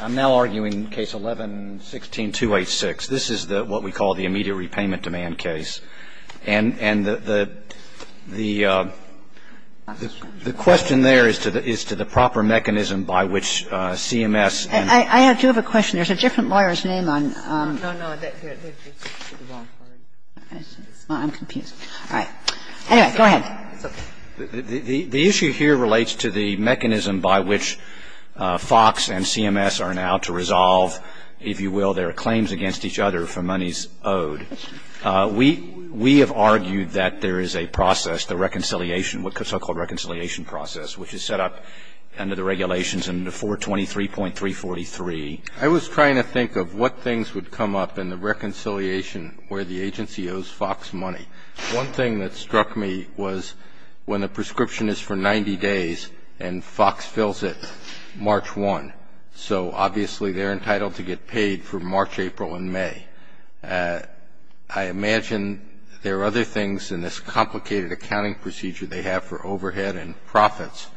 I'm now arguing case 11-16-286. This is what we call the immediate repayment demand case. And the question there is to the proper mechanism by which CMS and I do have a question. There's a different lawyer's name on No, no. I'm confused. All right. Anyway, go ahead. The issue here relates to the mechanism by which FOX and CMS are now to resolve, if you will, their claims against each other for monies owed. We have argued that there is a process, the reconciliation, the so-called reconciliation process, which is set up under the regulations in 423.343. I was trying to think of what things would come up in the reconciliation where the agency owes FOX money. One thing that struck me was when a prescription is for 90 days and FOX fills it March 1, so obviously they're entitled to get paid for March, April and May. I imagine there are other things in this complicated accounting procedure they have for overhead and profits.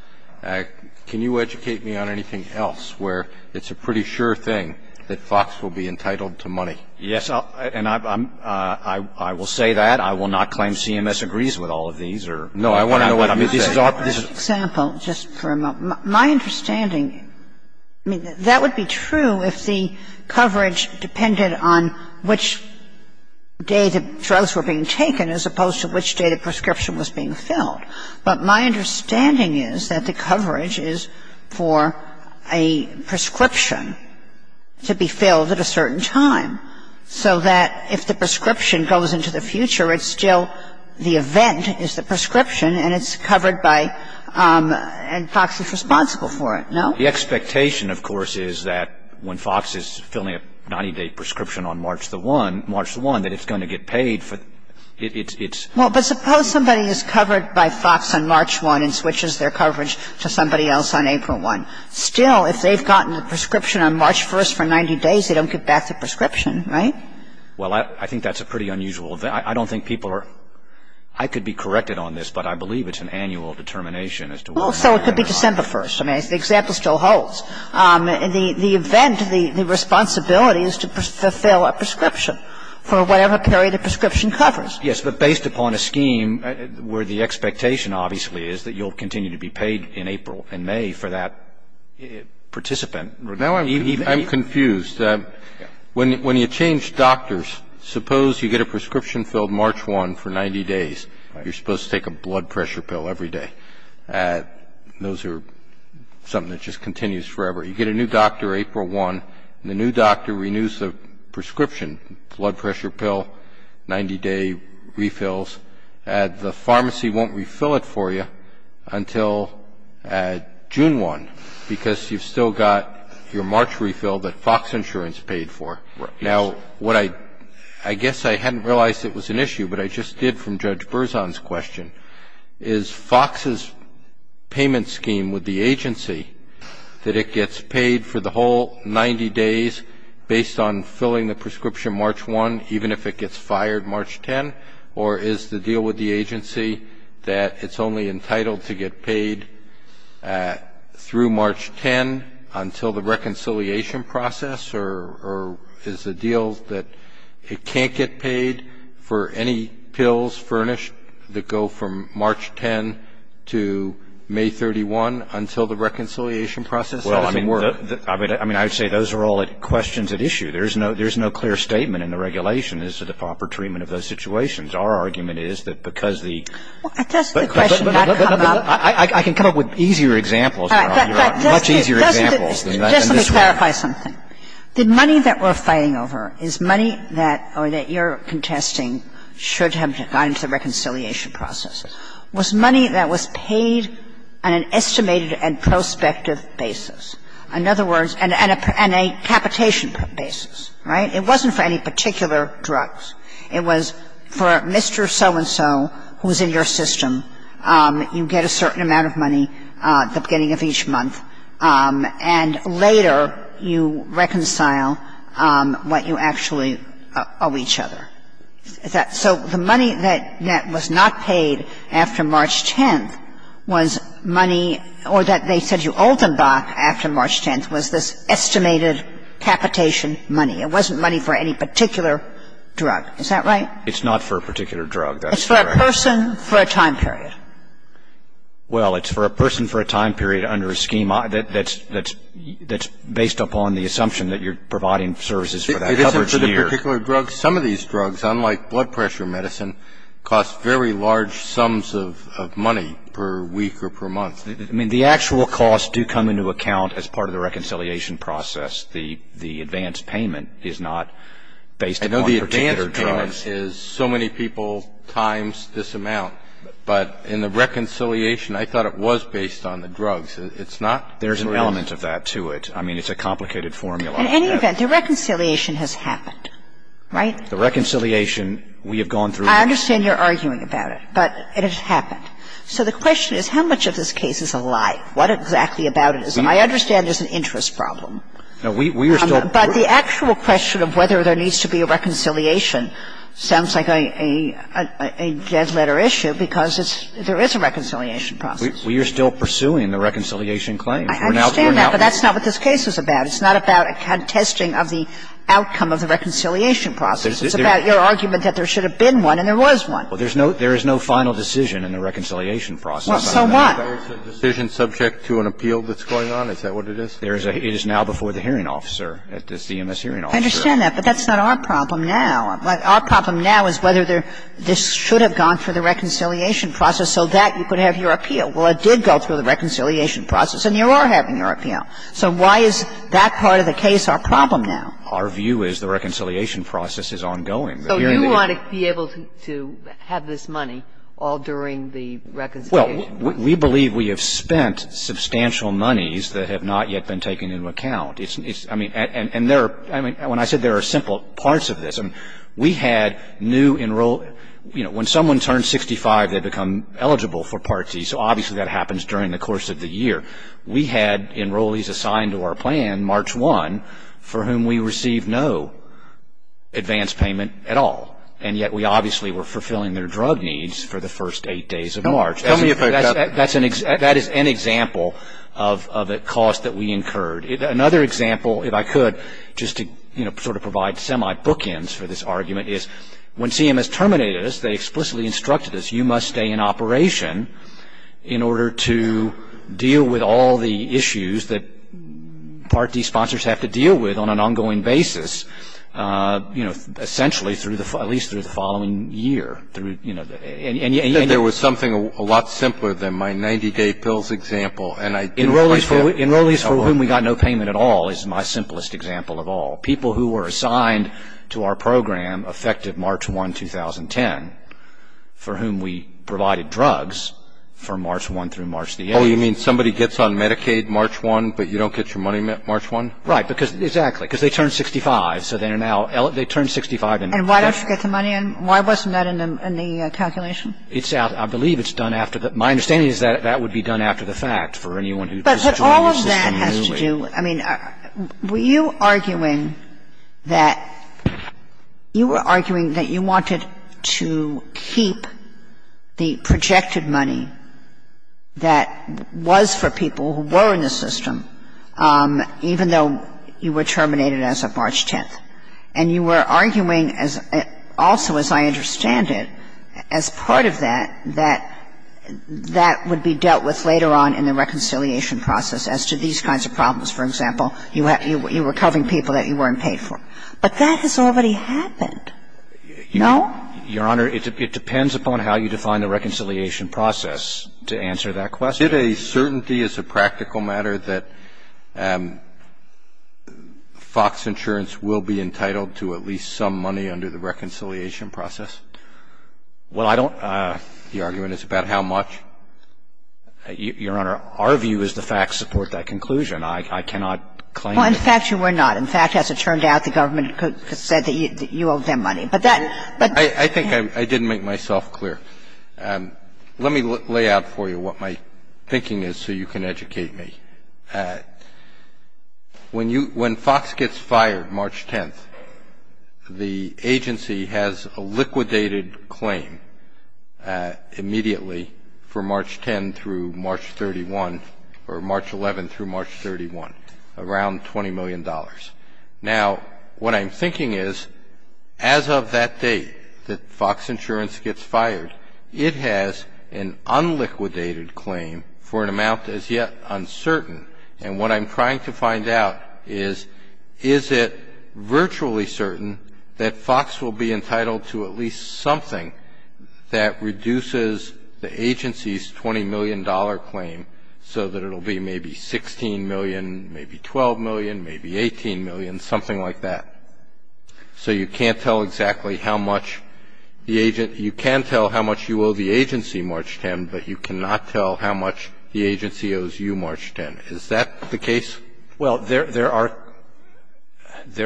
Can you educate me on anything else where it's a pretty sure thing that FOX will be entitled to money? Yes. And I will say that. I will not claim CMS agrees with all of these. No, I want to know what you're saying. For example, just for a moment, my understanding, I mean, that would be true if the coverage depended on which day the drugs were being taken as opposed to which day the prescription was being filled. But my understanding is that the coverage is for a prescription to be filled at a certain time, so that if the prescription goes into the future, it's still the event is the prescription and it's covered by and FOX is responsible for it. No? The expectation, of course, is that when FOX is filling a 90-day prescription on March the 1, March the 1, that it's going to get paid. Well, but suppose somebody is covered by FOX on March 1 and switches their coverage to somebody else on April 1. Still, if they've gotten a prescription on March 1 for 90 days, they don't get back the prescription, right? Well, I think that's a pretty unusual event. I don't think people are – I could be corrected on this, but I believe it's an annual determination as to when FOX is covered. Well, so it could be December 1. I mean, the example still holds. The event, the responsibility is to fulfill a prescription for whatever period a prescription covers. Yes, but based upon a scheme where the expectation, obviously, is that you'll continue to be paid in April and May for that participant. Now I'm confused. When you change doctors, suppose you get a prescription filled March 1 for 90 days. You're supposed to take a blood pressure pill every day. Those are something that just continues forever. You get a new doctor April 1, and the new doctor renews the prescription, blood pressure pill, 90-day refills. The pharmacy won't refill it for you until June 1, because you've still got your March refill that FOX Insurance paid for. Now what I – I guess I hadn't realized it was an issue, but I just did from Judge Berzon's question, is FOX's payment scheme with the agency, that it gets paid for the whole 90 days based on filling the prescription March 1, even if it gets fired March 10? Or is the deal with the agency that it's only entitled to get paid through March 10 until the reconciliation process? Or is the deal that it can't get paid for any pills furnished that go from March 10 to May 31 until the reconciliation process doesn't work? I mean, I would say those are all questions at issue. There's no clear statement in the regulation as to the proper treatment of those situations. Our argument is that because the – But does the question not come up – I can come up with easier examples, Your Honor, much easier examples than this one. Just let me clarify something. The money that we're fighting over is money that – or that you're contesting should have gone to the reconciliation process. It was money that was paid on an estimated and prospective basis. In other words, on a capitation basis, right? It wasn't for any particular drugs. It was for Mr. So-and-so who was in your system. You get a certain amount of money at the beginning of each month, and later you reconcile what you actually owe each other. So the money that was not paid after March 10th was money – or that they said you owed them by after March 10th was this estimated capitation money. It wasn't money for any particular drug. Is that right? It's not for a particular drug. That's correct. It's for a person for a time period. Well, it's for a person for a time period under a scheme that's based upon the assumption that you're providing services for that coverage year. It's not for a particular drug. Some of these drugs, unlike blood pressure medicine, cost very large sums of money per week or per month. I mean, the actual costs do come into account as part of the reconciliation process. The advance payment is not based on one particular drug. I know the advance payment is so many people times this amount. But in the reconciliation, I thought it was based on the drugs. It's not? There's an element of that to it. I mean, it's a complicated formula. In any event, the reconciliation has happened. Right? The reconciliation, we have gone through. I understand you're arguing about it. But it has happened. So the question is how much of this case is a lie? What exactly about it is a lie? I understand there's an interest problem. No, we are still. But the actual question of whether there needs to be a reconciliation sounds like a dead letter issue because there is a reconciliation process. We are still pursuing the reconciliation claims. I understand that. But that's not what this case is about. It's not about a contesting of the outcome of the reconciliation process. It's about your argument that there should have been one and there was one. Well, there is no final decision in the reconciliation process. So what? Is the decision subject to an appeal that's going on? Is that what it is? It is now before the hearing officer, the CMS hearing officer. I understand that. But that's not our problem now. Our problem now is whether this should have gone through the reconciliation process so that you could have your appeal. Well, it did go through the reconciliation process, and you are having your appeal. So why is that part of the case our problem now? Our view is the reconciliation process is ongoing. So you want to be able to have this money all during the reconciliation? Well, we believe we have spent substantial monies that have not yet been taken into account. I mean, and there are – I mean, when I said there are simple parts of this, we had new enroll – you know, when someone turns 65, they become eligible for Part D. So obviously that happens during the course of the year. We had enrollees assigned to our plan March 1 for whom we received no advance payment at all, and yet we obviously were fulfilling their drug needs for the first eight days of March. Tell me about that. That is an example of a cost that we incurred. Another example, if I could, just to sort of provide semi-bookends for this argument, is when CMS terminated us, they explicitly instructed us, you must stay in operation in order to deal with all the issues that Part D sponsors have to deal with on an ongoing basis, you know, essentially at least through the following year. You know, and yet – There was something a lot simpler than my 90-day pills example, and I – Enrollees for whom we got no payment at all is my simplest example of all. People who were assigned to our program affected March 1, 2010, for whom we provided drugs for March 1 through March the 8th. Oh, you mean somebody gets on Medicaid March 1, but you don't get your money March 1? Right. Because – exactly. Because they turn 65, so they are now – they turn 65 and – And why don't you get the money in? Why wasn't that in the calculation? It's out – I believe it's done after the – my understanding is that that would be done after the fact for anyone who just joined the system newly. I mean, were you arguing that – you were arguing that you wanted to keep the projected money that was for people who were in the system, even though you were terminated as of March 10th. And you were arguing as – also, as I understand it, as part of that, that that would be dealt with later on in the reconciliation process as to these kinds of problems. For example, you were covering people that you weren't paid for. But that has already happened. No? Your Honor, it depends upon how you define the reconciliation process to answer that question. Is it a certainty as a practical matter that Fox Insurance will be entitled to at least some money under the reconciliation process? Well, I don't – the argument is about how much. Your Honor, our view is the facts support that conclusion. I cannot claim that. Well, in fact, you were not. In fact, as it turned out, the government said that you owed them money. But that – but – I think I didn't make myself clear. Let me lay out for you what my thinking is so you can educate me. When you – when Fox gets fired March 10th, the agency has a liquidated claim immediately for March 10th through March 31st, or March 11th through March 31st, around $20 million. Now, what I'm thinking is, as of that date that Fox Insurance gets fired, it has an unliquidated claim for an amount as yet uncertain. And what I'm trying to find out is, is it virtually certain that Fox will be entitled to at least something that reduces the agency's $20 million claim so that it will be maybe $16 million, maybe $12 million, maybe $18 million, something like that. So you can't tell exactly how much the – you can tell how much you owe the agency March 10th, but you cannot tell how much the agency owes you March 10th. Is that the case? Well, there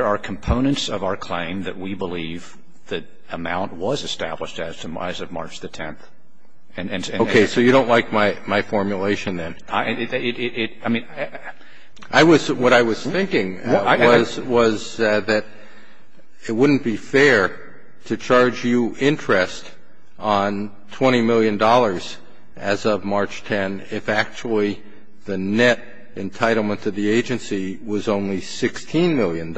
are components of our claim that we believe that amount was established as of March the 10th. Okay. So you don't like my formulation then? I mean, I was – what I was thinking was that it wouldn't be fair to charge you interest on $20 million as of March 10th if actually the net entitlement to the agency was only $16 million,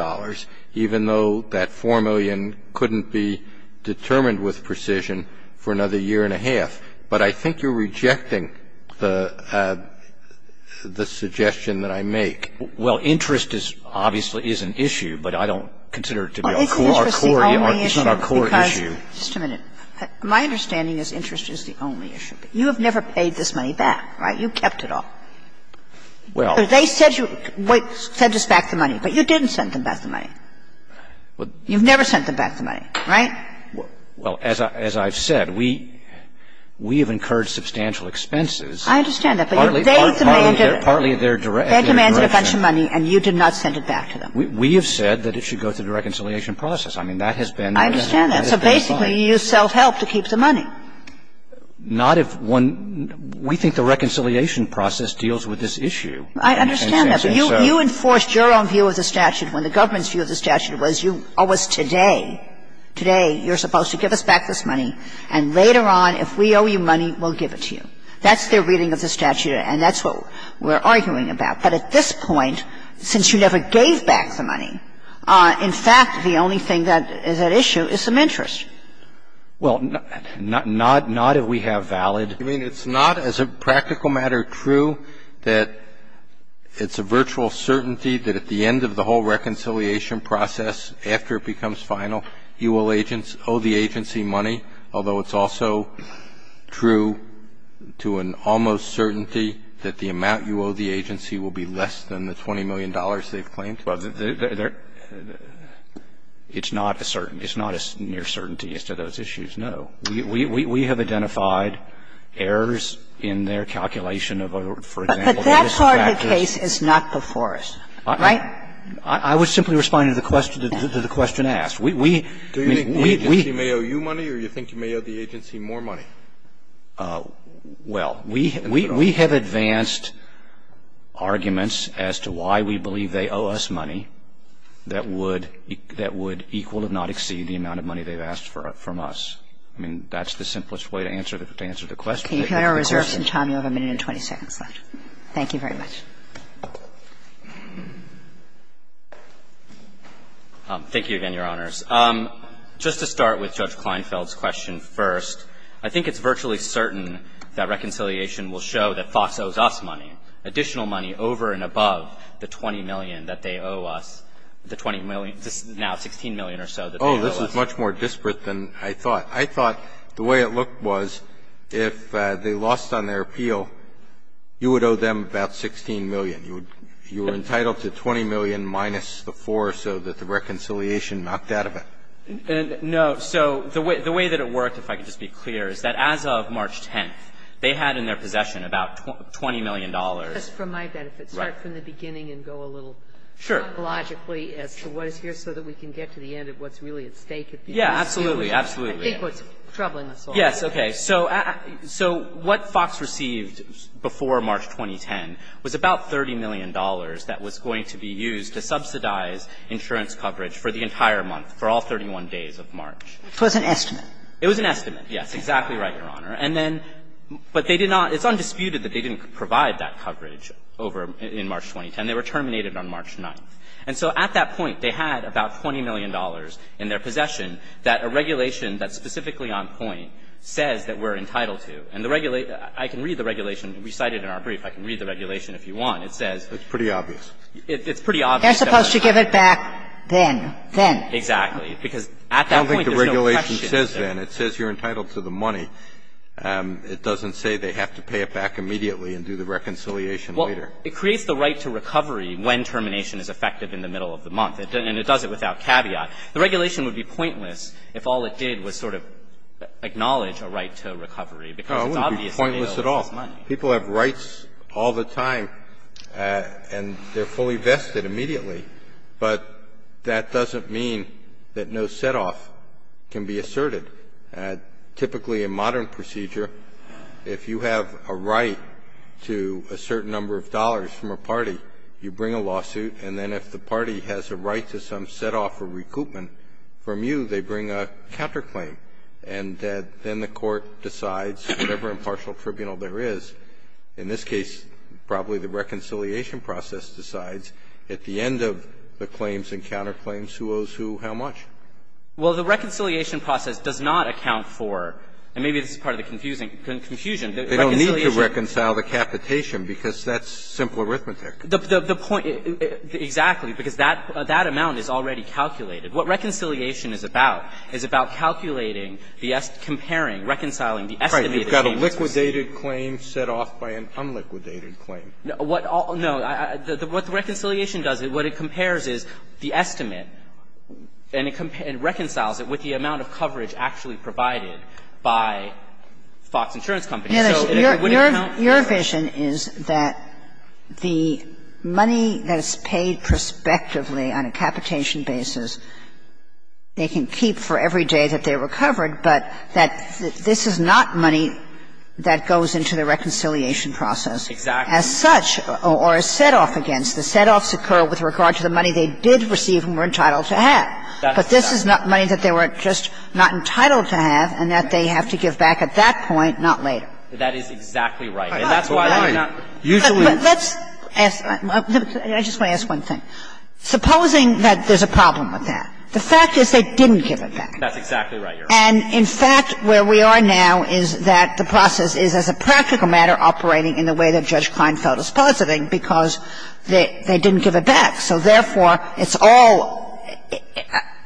even though that $4 million couldn't be determined with precision for another year and a half. But I think you're rejecting the suggestion that I make. Well, interest is – obviously is an issue, but I don't consider it to be our core issue. Well, interest is the only issue. It's not our core issue. Just a minute. My understanding is interest is the only issue. You have never paid this money back, right? You kept it all. Well. They said you sent us back the money, but you didn't send them back the money. You've never sent them back the money, right? Well, as I've said, we have incurred substantial expenses. I understand that. But they demanded a bunch of money and you did not send it back to them. We have said that it should go through the reconciliation process. I mean, that has been the case. I understand that. So basically you used self-help to keep the money. Not if one – we think the reconciliation process deals with this issue. I understand that. But you enforced your own view of the statute when the government's view of the statute was you – or was today, today you're supposed to give us back this money and later on, if we owe you money, we'll give it to you. That's their reading of the statute and that's what we're arguing about. But at this point, since you never gave back the money, in fact, the only thing that is at issue is some interest. Well, not if we have valid. I mean, it's not as a practical matter true that it's a virtual certainty that at the end of the whole reconciliation process, after it becomes final, you will owe the agency money, although it's also true to an almost certainty that the amount you owe the agency will be less than the $20 million they've claimed. Well, there – it's not a certainty. It's not a near certainty as to those issues, no. We have identified errors in their calculation of, for example, this practice. But that part of the case is not before us, right? I was simply responding to the question asked. We – we – we – Do you think the agency may owe you money or you think you may owe the agency more money? Well, we – we have advanced arguments as to why we believe they owe us money that would – that would equal if not exceed the amount of money they've asked for from us. I mean, that's the simplest way to answer the question. Can you clear our reserves in time? You have a minute and 20 seconds left. Thank you very much. Thank you again, Your Honors. Just to start with Judge Kleinfeld's question first. I think it's virtually certain that reconciliation will show that Fox owes us money, additional money over and above the 20 million that they owe us, the 20 million – now 16 million or so that they owe us. Oh, this is much more disparate than I thought. I thought the way it looked was if they lost on their appeal, you would owe them about 16 million. You would – you were entitled to 20 million minus the 4 or so that the reconciliation knocked out of it. No. So the way that it worked, if I could just be clear, is that as of March 10th, they had in their possession about 20 million dollars. Just for my benefit, start from the beginning and go a little chronologically as to what is here so that we can get to the end of what's really at stake. Yeah, absolutely, absolutely. I think what's troubling us all. Yes, okay. So what Fox received before March 2010 was about $30 million that was going to be It was an estimate. It was an estimate. Yes, exactly right, Your Honor. And then – but they did not – it's undisputed that they didn't provide that coverage over – in March 2010. They were terminated on March 9th. And so at that point, they had about 20 million dollars in their possession that a regulation that's specifically on point says that we're entitled to. And the – I can read the regulation. We cite it in our brief. I can read the regulation if you want. It says – It's pretty obvious. It's pretty obvious that we're entitled to. They're supposed to give it back then. Then. Exactly. Because at that point, there's no question. I don't think the regulation says then. It says you're entitled to the money. It doesn't say they have to pay it back immediately and do the reconciliation later. Well, it creates the right to recovery when termination is effective in the middle of the month. And it does it without caveat. The regulation would be pointless if all it did was sort of acknowledge a right to recovery because it's obvious that they owe us money. No, it wouldn't be pointless at all. People have rights all the time, and they're fully vested immediately. But that doesn't mean that no setoff can be asserted. Typically, in modern procedure, if you have a right to a certain number of dollars from a party, you bring a lawsuit. And then if the party has a right to some setoff or recoupment from you, they bring a counterclaim. And then the court decides, whatever impartial tribunal there is, in this case, probably the reconciliation process decides, at the end of the claims and counterclaims, who owes who how much. Well, the reconciliation process does not account for, and maybe this is part of the confusion, the reconciliation. They don't need to reconcile the capitation because that's simple arithmetic. The point, exactly, because that amount is already calculated. What reconciliation is about is about calculating, comparing, reconciling the estimated payments. Breyer, what is the difference between a liquidated claim set off by an unliquidated claim? No. What the reconciliation does, what it compares is the estimate. And it reconciles it with the amount of coverage actually provided by Fox Insurance Companies. So it wouldn't count for the rest. Kagan, your vision is that the money that is paid prospectively on a capitation basis, they can keep for every day that they're recovered, but that this is not money that goes into the reconciliation process. Exactly. As such, or is set off against, the set-offs occur with regard to the money they did receive and were entitled to have. But this is money that they were just not entitled to have and that they have to give back at that point, not later. That is exactly right. And that's why they're not usually used. Let's ask – I just want to ask one thing. Supposing that there's a problem with that. The fact is they didn't give it back. That's exactly right, Your Honor. And, in fact, where we are now is that the process is, as a practical matter, operating in the way that Judge Kleinfeld is positing, because they didn't give it back. So, therefore, it's all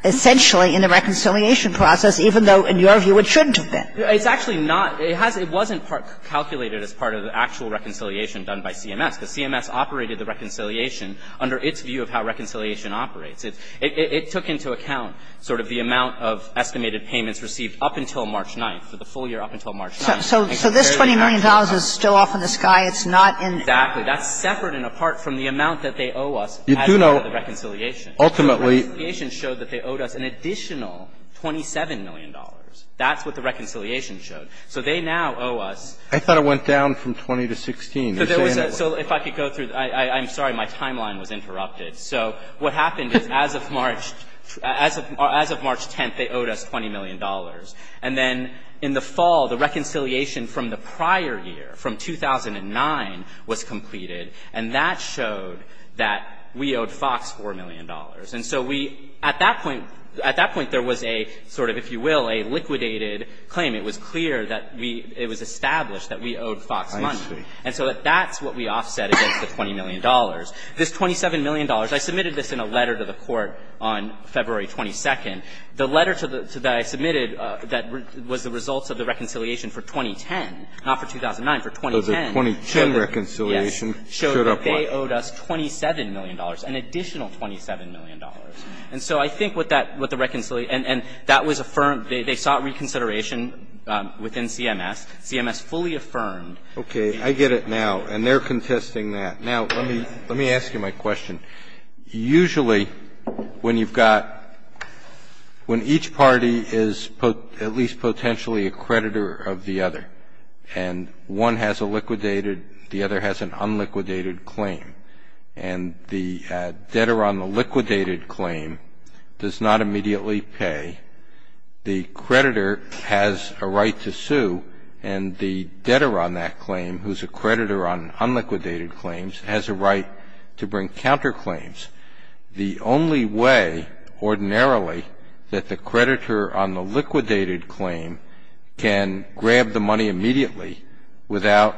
essentially in the reconciliation process, even though, in your view, it shouldn't have been. It's actually not. It wasn't calculated as part of the actual reconciliation done by CMS, because CMS operated the reconciliation under its view of how reconciliation operates. It took into account sort of the amount of estimated payments received up until March 9th, for the full year up until March 9th. So this $20 million is still off in the sky. It's not in the process. Exactly. That's separate and apart from the amount that they owe us as part of the reconciliation. Ultimately, the reconciliation showed that they owed us an additional $27 million. That's what the reconciliation showed. So they now owe us ---- I thought it went down from 20 to 16. You're saying that was ---- So if I could go through. I'm sorry. My timeline was interrupted. So what happened is, as of March 10th, they owed us $20 million. And then in the fall, the reconciliation from the prior year, from 2009, was completed. And that showed that we owed Fox $4 million. And so we, at that point, at that point, there was a sort of, if you will, a liquidated claim. It was clear that we ---- it was established that we owed Fox money. I see. And so that's what we offset against the $20 million. This $27 million, I submitted this in a letter to the Court on February 22nd. The letter that I submitted that was the result of the reconciliation for 2010, not for 2009, for 2010, showed that they owed us $27 million, an additional $27 million. And so I think what that ---- what the reconciliation ---- and that was affirmed or they sought reconsideration within CMS. CMS fully affirmed. Okay. I get it now. And they're contesting that. Now, let me ask you my question. Usually, when you've got ---- when each party is at least potentially a creditor of the other, and one has a liquidated, the other has an unliquidated claim, and the creditor has a right to sue, and the debtor on that claim, who's a creditor on unliquidated claims, has a right to bring counterclaims, the only way ordinarily that the creditor on the liquidated claim can grab the money immediately without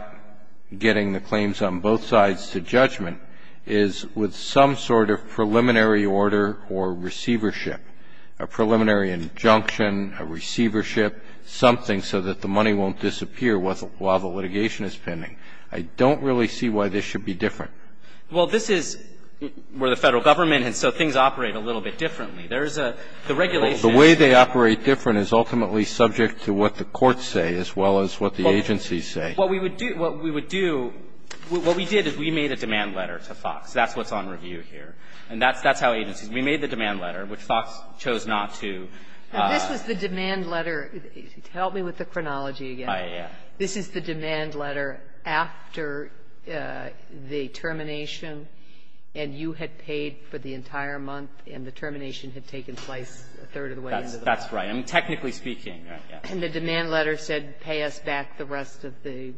getting the claims on both sides to judgment is with some sort of preliminary order or receivership. A preliminary injunction, a receivership, something so that the money won't disappear while the litigation is pending. I don't really see why this should be different. Well, this is where the Federal Government has said things operate a little bit differently. There's a ---- the regulations ---- The way they operate different is ultimately subject to what the courts say as well as what the agencies say. What we would do ---- what we would do, what we did is we made a demand letter to Fox. That's what's on review here. And that's how agencies ---- we made the demand letter, which Fox chose not to ---- Now, this was the demand letter ---- help me with the chronology again. I, yeah. This is the demand letter after the termination, and you had paid for the entire month, and the termination had taken place a third of the way into the month. That's right. I mean, technically speaking, right, yeah. And the demand letter said, pay us back the rest of the money.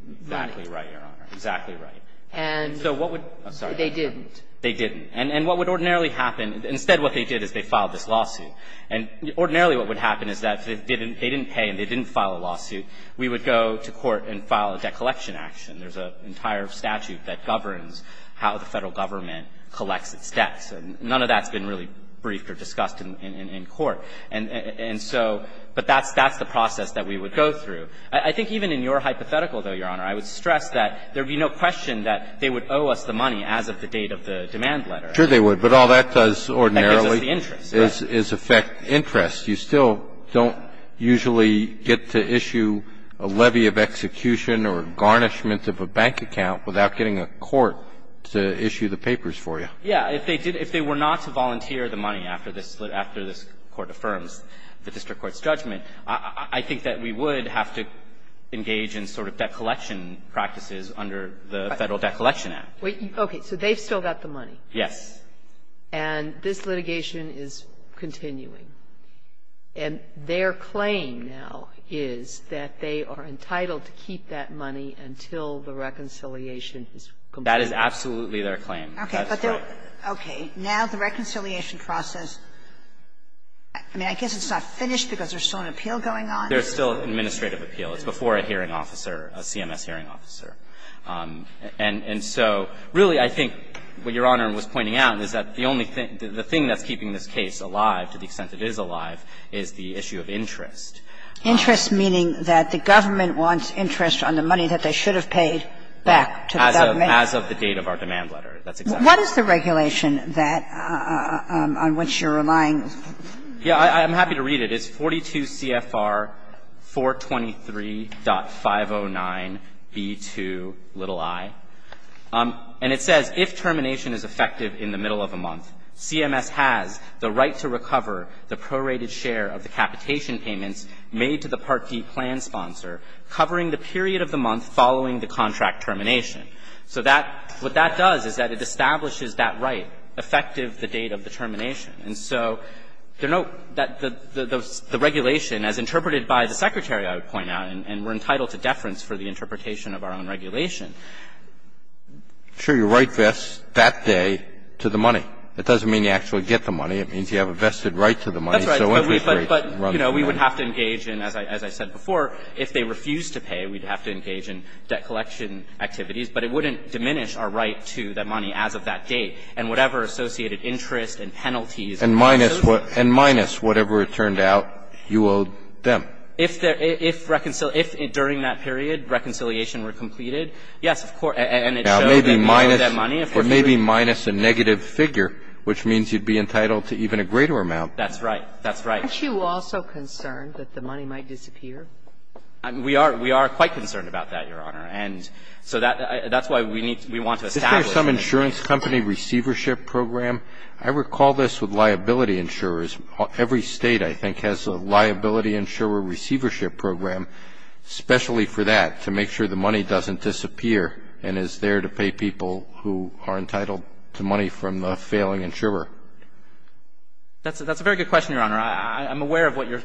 Exactly right, Your Honor. Exactly right. And ---- So what would ---- I'm sorry. They didn't. They didn't. And what would ordinarily happen, instead what they did is they filed this lawsuit. And ordinarily what would happen is that if they didn't pay and they didn't file a lawsuit, we would go to court and file a debt collection action. There's an entire statute that governs how the Federal government collects its debts. And none of that's been really briefed or discussed in court. And so ---- but that's the process that we would go through. I think even in your hypothetical, though, Your Honor, I would stress that there would owe us the money as of the date of the demand letter. Sure, they would. But all that does ordinarily is affect interest. You still don't usually get to issue a levy of execution or a garnishment of a bank account without getting a court to issue the papers for you. Yeah. If they did ---- if they were not to volunteer the money after this Court affirms the district court's judgment, I think that we would have to engage in sort of debt collection act. Wait. Okay. So they've still got the money? Yes. And this litigation is continuing. And their claim now is that they are entitled to keep that money until the reconciliation is complete. That is absolutely their claim. That's right. Okay. Now the reconciliation process, I mean, I guess it's not finished because there's still an appeal going on. There's still an administrative appeal. It's before a hearing officer, a CMS hearing officer. And so really I think what Your Honor was pointing out is that the only thing the thing that's keeping this case alive to the extent it is alive is the issue of interest. Interest meaning that the government wants interest on the money that they should have paid back to the government? As of the date of our demand letter. That's exactly right. What is the regulation that you're relying on? Yeah. I'm happy to read it. It is 42 CFR 423.509B2i. And it says if termination is effective in the middle of a month, CMS has the right to recover the prorated share of the capitation payments made to the Part D plan sponsor covering the period of the month following the contract termination. So that what that does is that it establishes that right effective the date of the termination. And so the regulation, as interpreted by the Secretary, I would point out, and we're entitled to deference for the interpretation of our own regulation. Sure, your right vests that day to the money. It doesn't mean you actually get the money. It means you have a vested right to the money. That's right. But, you know, we would have to engage in, as I said before, if they refuse to pay, we'd have to engage in debt collection activities. But it wouldn't diminish our right to the money as of that date. And whatever associated interest and penalties and costs of it. And minus whatever, it turned out, you owed them. If there – if during that period reconciliation were completed, yes, of course. And it showed that you owed that money. Now, maybe minus a negative figure, which means you'd be entitled to even a greater amount. That's right. That's right. Aren't you also concerned that the money might disappear? We are. We are quite concerned about that, Your Honor. And so that's why we need to – we want to establish that. In the case of the company receivership program, I recall this with liability insurers. Every State I think has a liability insurer receivership program, especially for that, to make sure the money doesn't disappear and is there to pay people who are entitled to money from the failing insurer. That's a very good question, Your Honor. I'm aware of what you're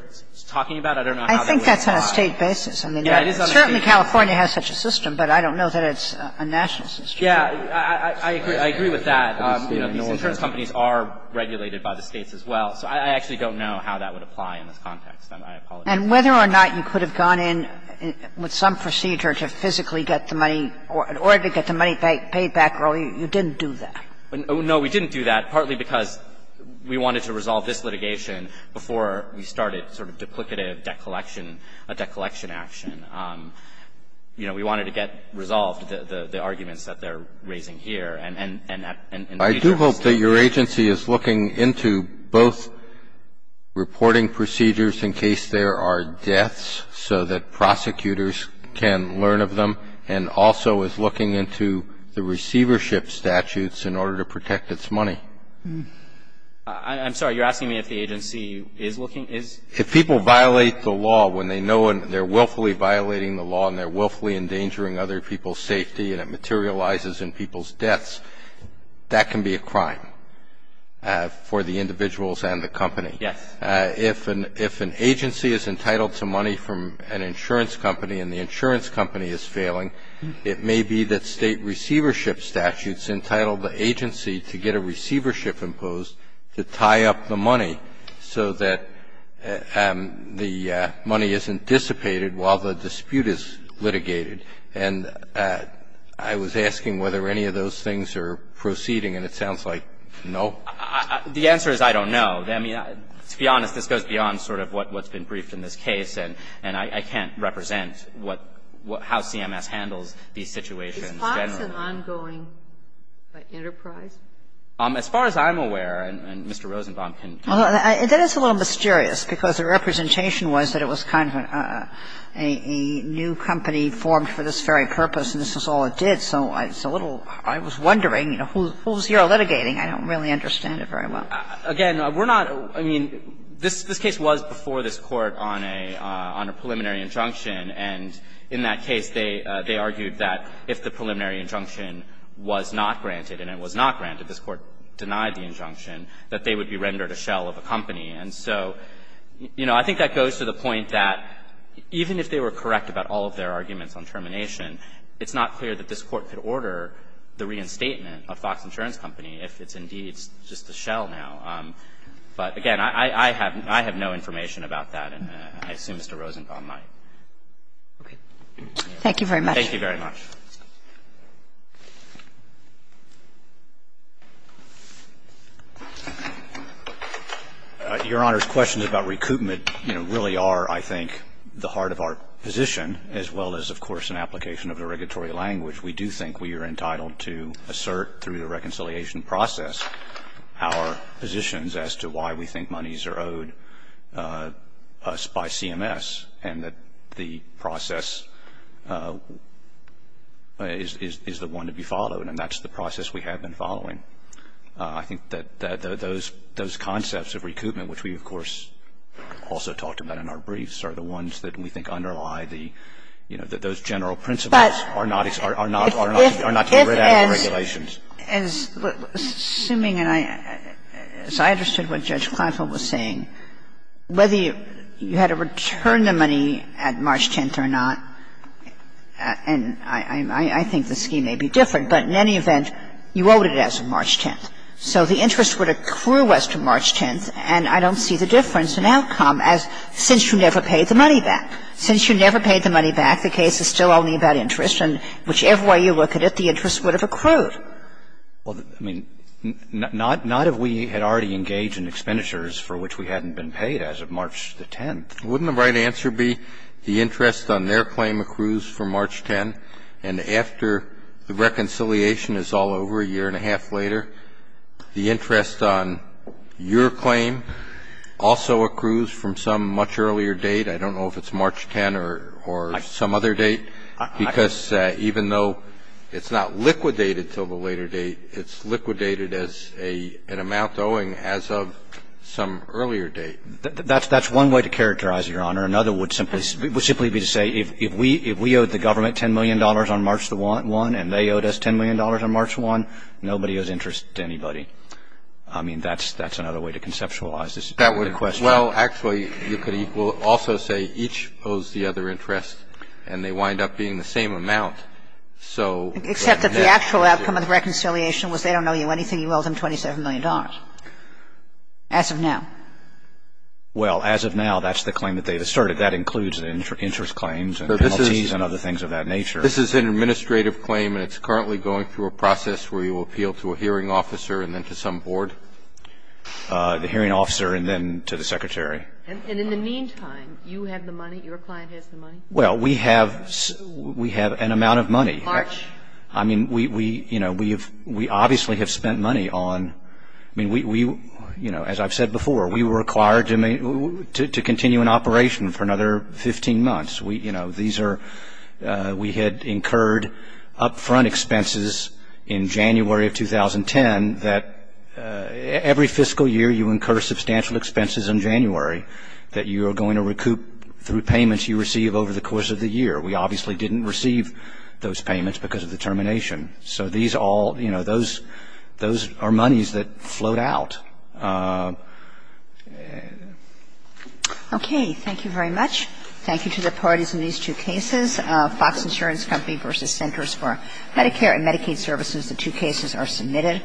talking about. I don't know how that would apply. I think that's on a State basis. Yeah, it is on a State basis. I mean, certainly California has such a system, but I don't know that it's a national institution. Yeah, I agree with that. You know, these insurance companies are regulated by the States as well. So I actually don't know how that would apply in this context. I apologize. And whether or not you could have gone in with some procedure to physically get the money or to get the money paid back early, you didn't do that. No, we didn't do that, partly because we wanted to resolve this litigation before we started sort of duplicative debt collection, a debt collection action. You know, we wanted to get resolved the arguments that they're raising here. And that's the agency's fault. I do hope that your agency is looking into both reporting procedures in case there are deaths so that prosecutors can learn of them, and also is looking into the receivership statutes in order to protect its money. I'm sorry, you're asking me if the agency is looking, is? If people violate the law when they know they're willfully violating the law and they're willfully endangering other people's safety and it materializes in people's deaths, that can be a crime for the individuals and the company. Yes. If an agency is entitled to money from an insurance company and the insurance company is failing, it may be that state receivership statutes entitle the agency to get a receivership imposed to tie up the money so that the money isn't dissipated while the dispute is litigated. And I was asking whether any of those things are proceeding, and it sounds like no. The answer is I don't know. I mean, to be honest, this goes beyond sort of what's been briefed in this case, and I can't represent what how CMS handles these situations. Is FOX an ongoing enterprise? As far as I'm aware, and Mr. Rosenbaum can tell us. That is a little mysterious, because the representation was that it was kind of a new company formed for this very purpose and this is all it did. So it's a little – I was wondering, you know, who's here litigating? I don't really understand it very well. Again, we're not – I mean, this case was before this Court on a preliminary injunction, and in that case, they argued that if the preliminary injunction was not granted, and it was not granted, this Court denied the injunction, that they would be rendered a shell of a company. And so, you know, I think that goes to the point that even if they were correct about all of their arguments on termination, it's not clear that this Court could order the reinstatement of FOX Insurance Company if it's indeed just a shell now. But again, I have no information about that, and I assume Mr. Rosenbaum might. Okay. Thank you very much. Thank you very much. Your Honor, questions about recoupment, you know, really are, I think, the heart of our position, as well as, of course, an application of the regulatory language. We do think we are entitled to assert through the reconciliation process our positions as to why we think monies are owed us by CMS, and that the process is the one to be followed, and that's the process we have been following. I think that those concepts of recoupment, which we, of course, also talked about in our briefs, are the ones that we think underlie the – you know, that those general principles are not to be read out in regulations. As – assuming, and I – as I understood what Judge Kleinfeld was saying, whether you had to return the money at March 10th or not, and I think the scheme may be different, but in any event, you owed it as of March 10th, so the interest would accrue as to March 10th, and I don't see the difference in outcome as since you never paid the money back. Since you never paid the money back, the case is still only about interest, and whichever way you look at it, the interest would have accrued. Roberts. Well, I mean, not – not if we had already engaged in expenditures for which we hadn't been paid as of March the 10th. Wouldn't the right answer be the interest on their claim accrues from March 10th, and after the reconciliation is all over a year and a half later, the interest on your claim also accrues from some much earlier date? I don't know if it's March 10th or some other date, because even though, you know, it's not liquidated until the later date, it's liquidated as an amount owing as of some earlier date. That's one way to characterize it, Your Honor. Another would simply be to say, if we owed the government $10 million on March 1 and they owed us $10 million on March 1, nobody owes interest to anybody. I mean, that's another way to conceptualize this. Well, actually, you could also say each owes the other interest, and they wind up being the same amount. Except that the actual outcome of the reconciliation was they don't owe you anything, you owe them $27 million, as of now. Well, as of now, that's the claim that they asserted. That includes interest claims and penalties and other things of that nature. This is an administrative claim, and it's currently going through a process where you appeal to a hearing officer and then to some board? The hearing officer and then to the Secretary. Well, we have an amount of money. March? I mean, we obviously have spent money on, as I've said before, we were required to continue an operation for another 15 months. We had incurred upfront expenses in January of 2010 that every fiscal year you incur substantial expenses in January that you are going to recoup through payments you receive over the course of the year. We obviously didn't receive those payments because of the termination. So these all, you know, those are monies that float out. Okay. Thank you very much. Thank you to the parties in these two cases. Fox Insurance Company v. Centers for Medicare and Medicaid Services. The two cases are submitted.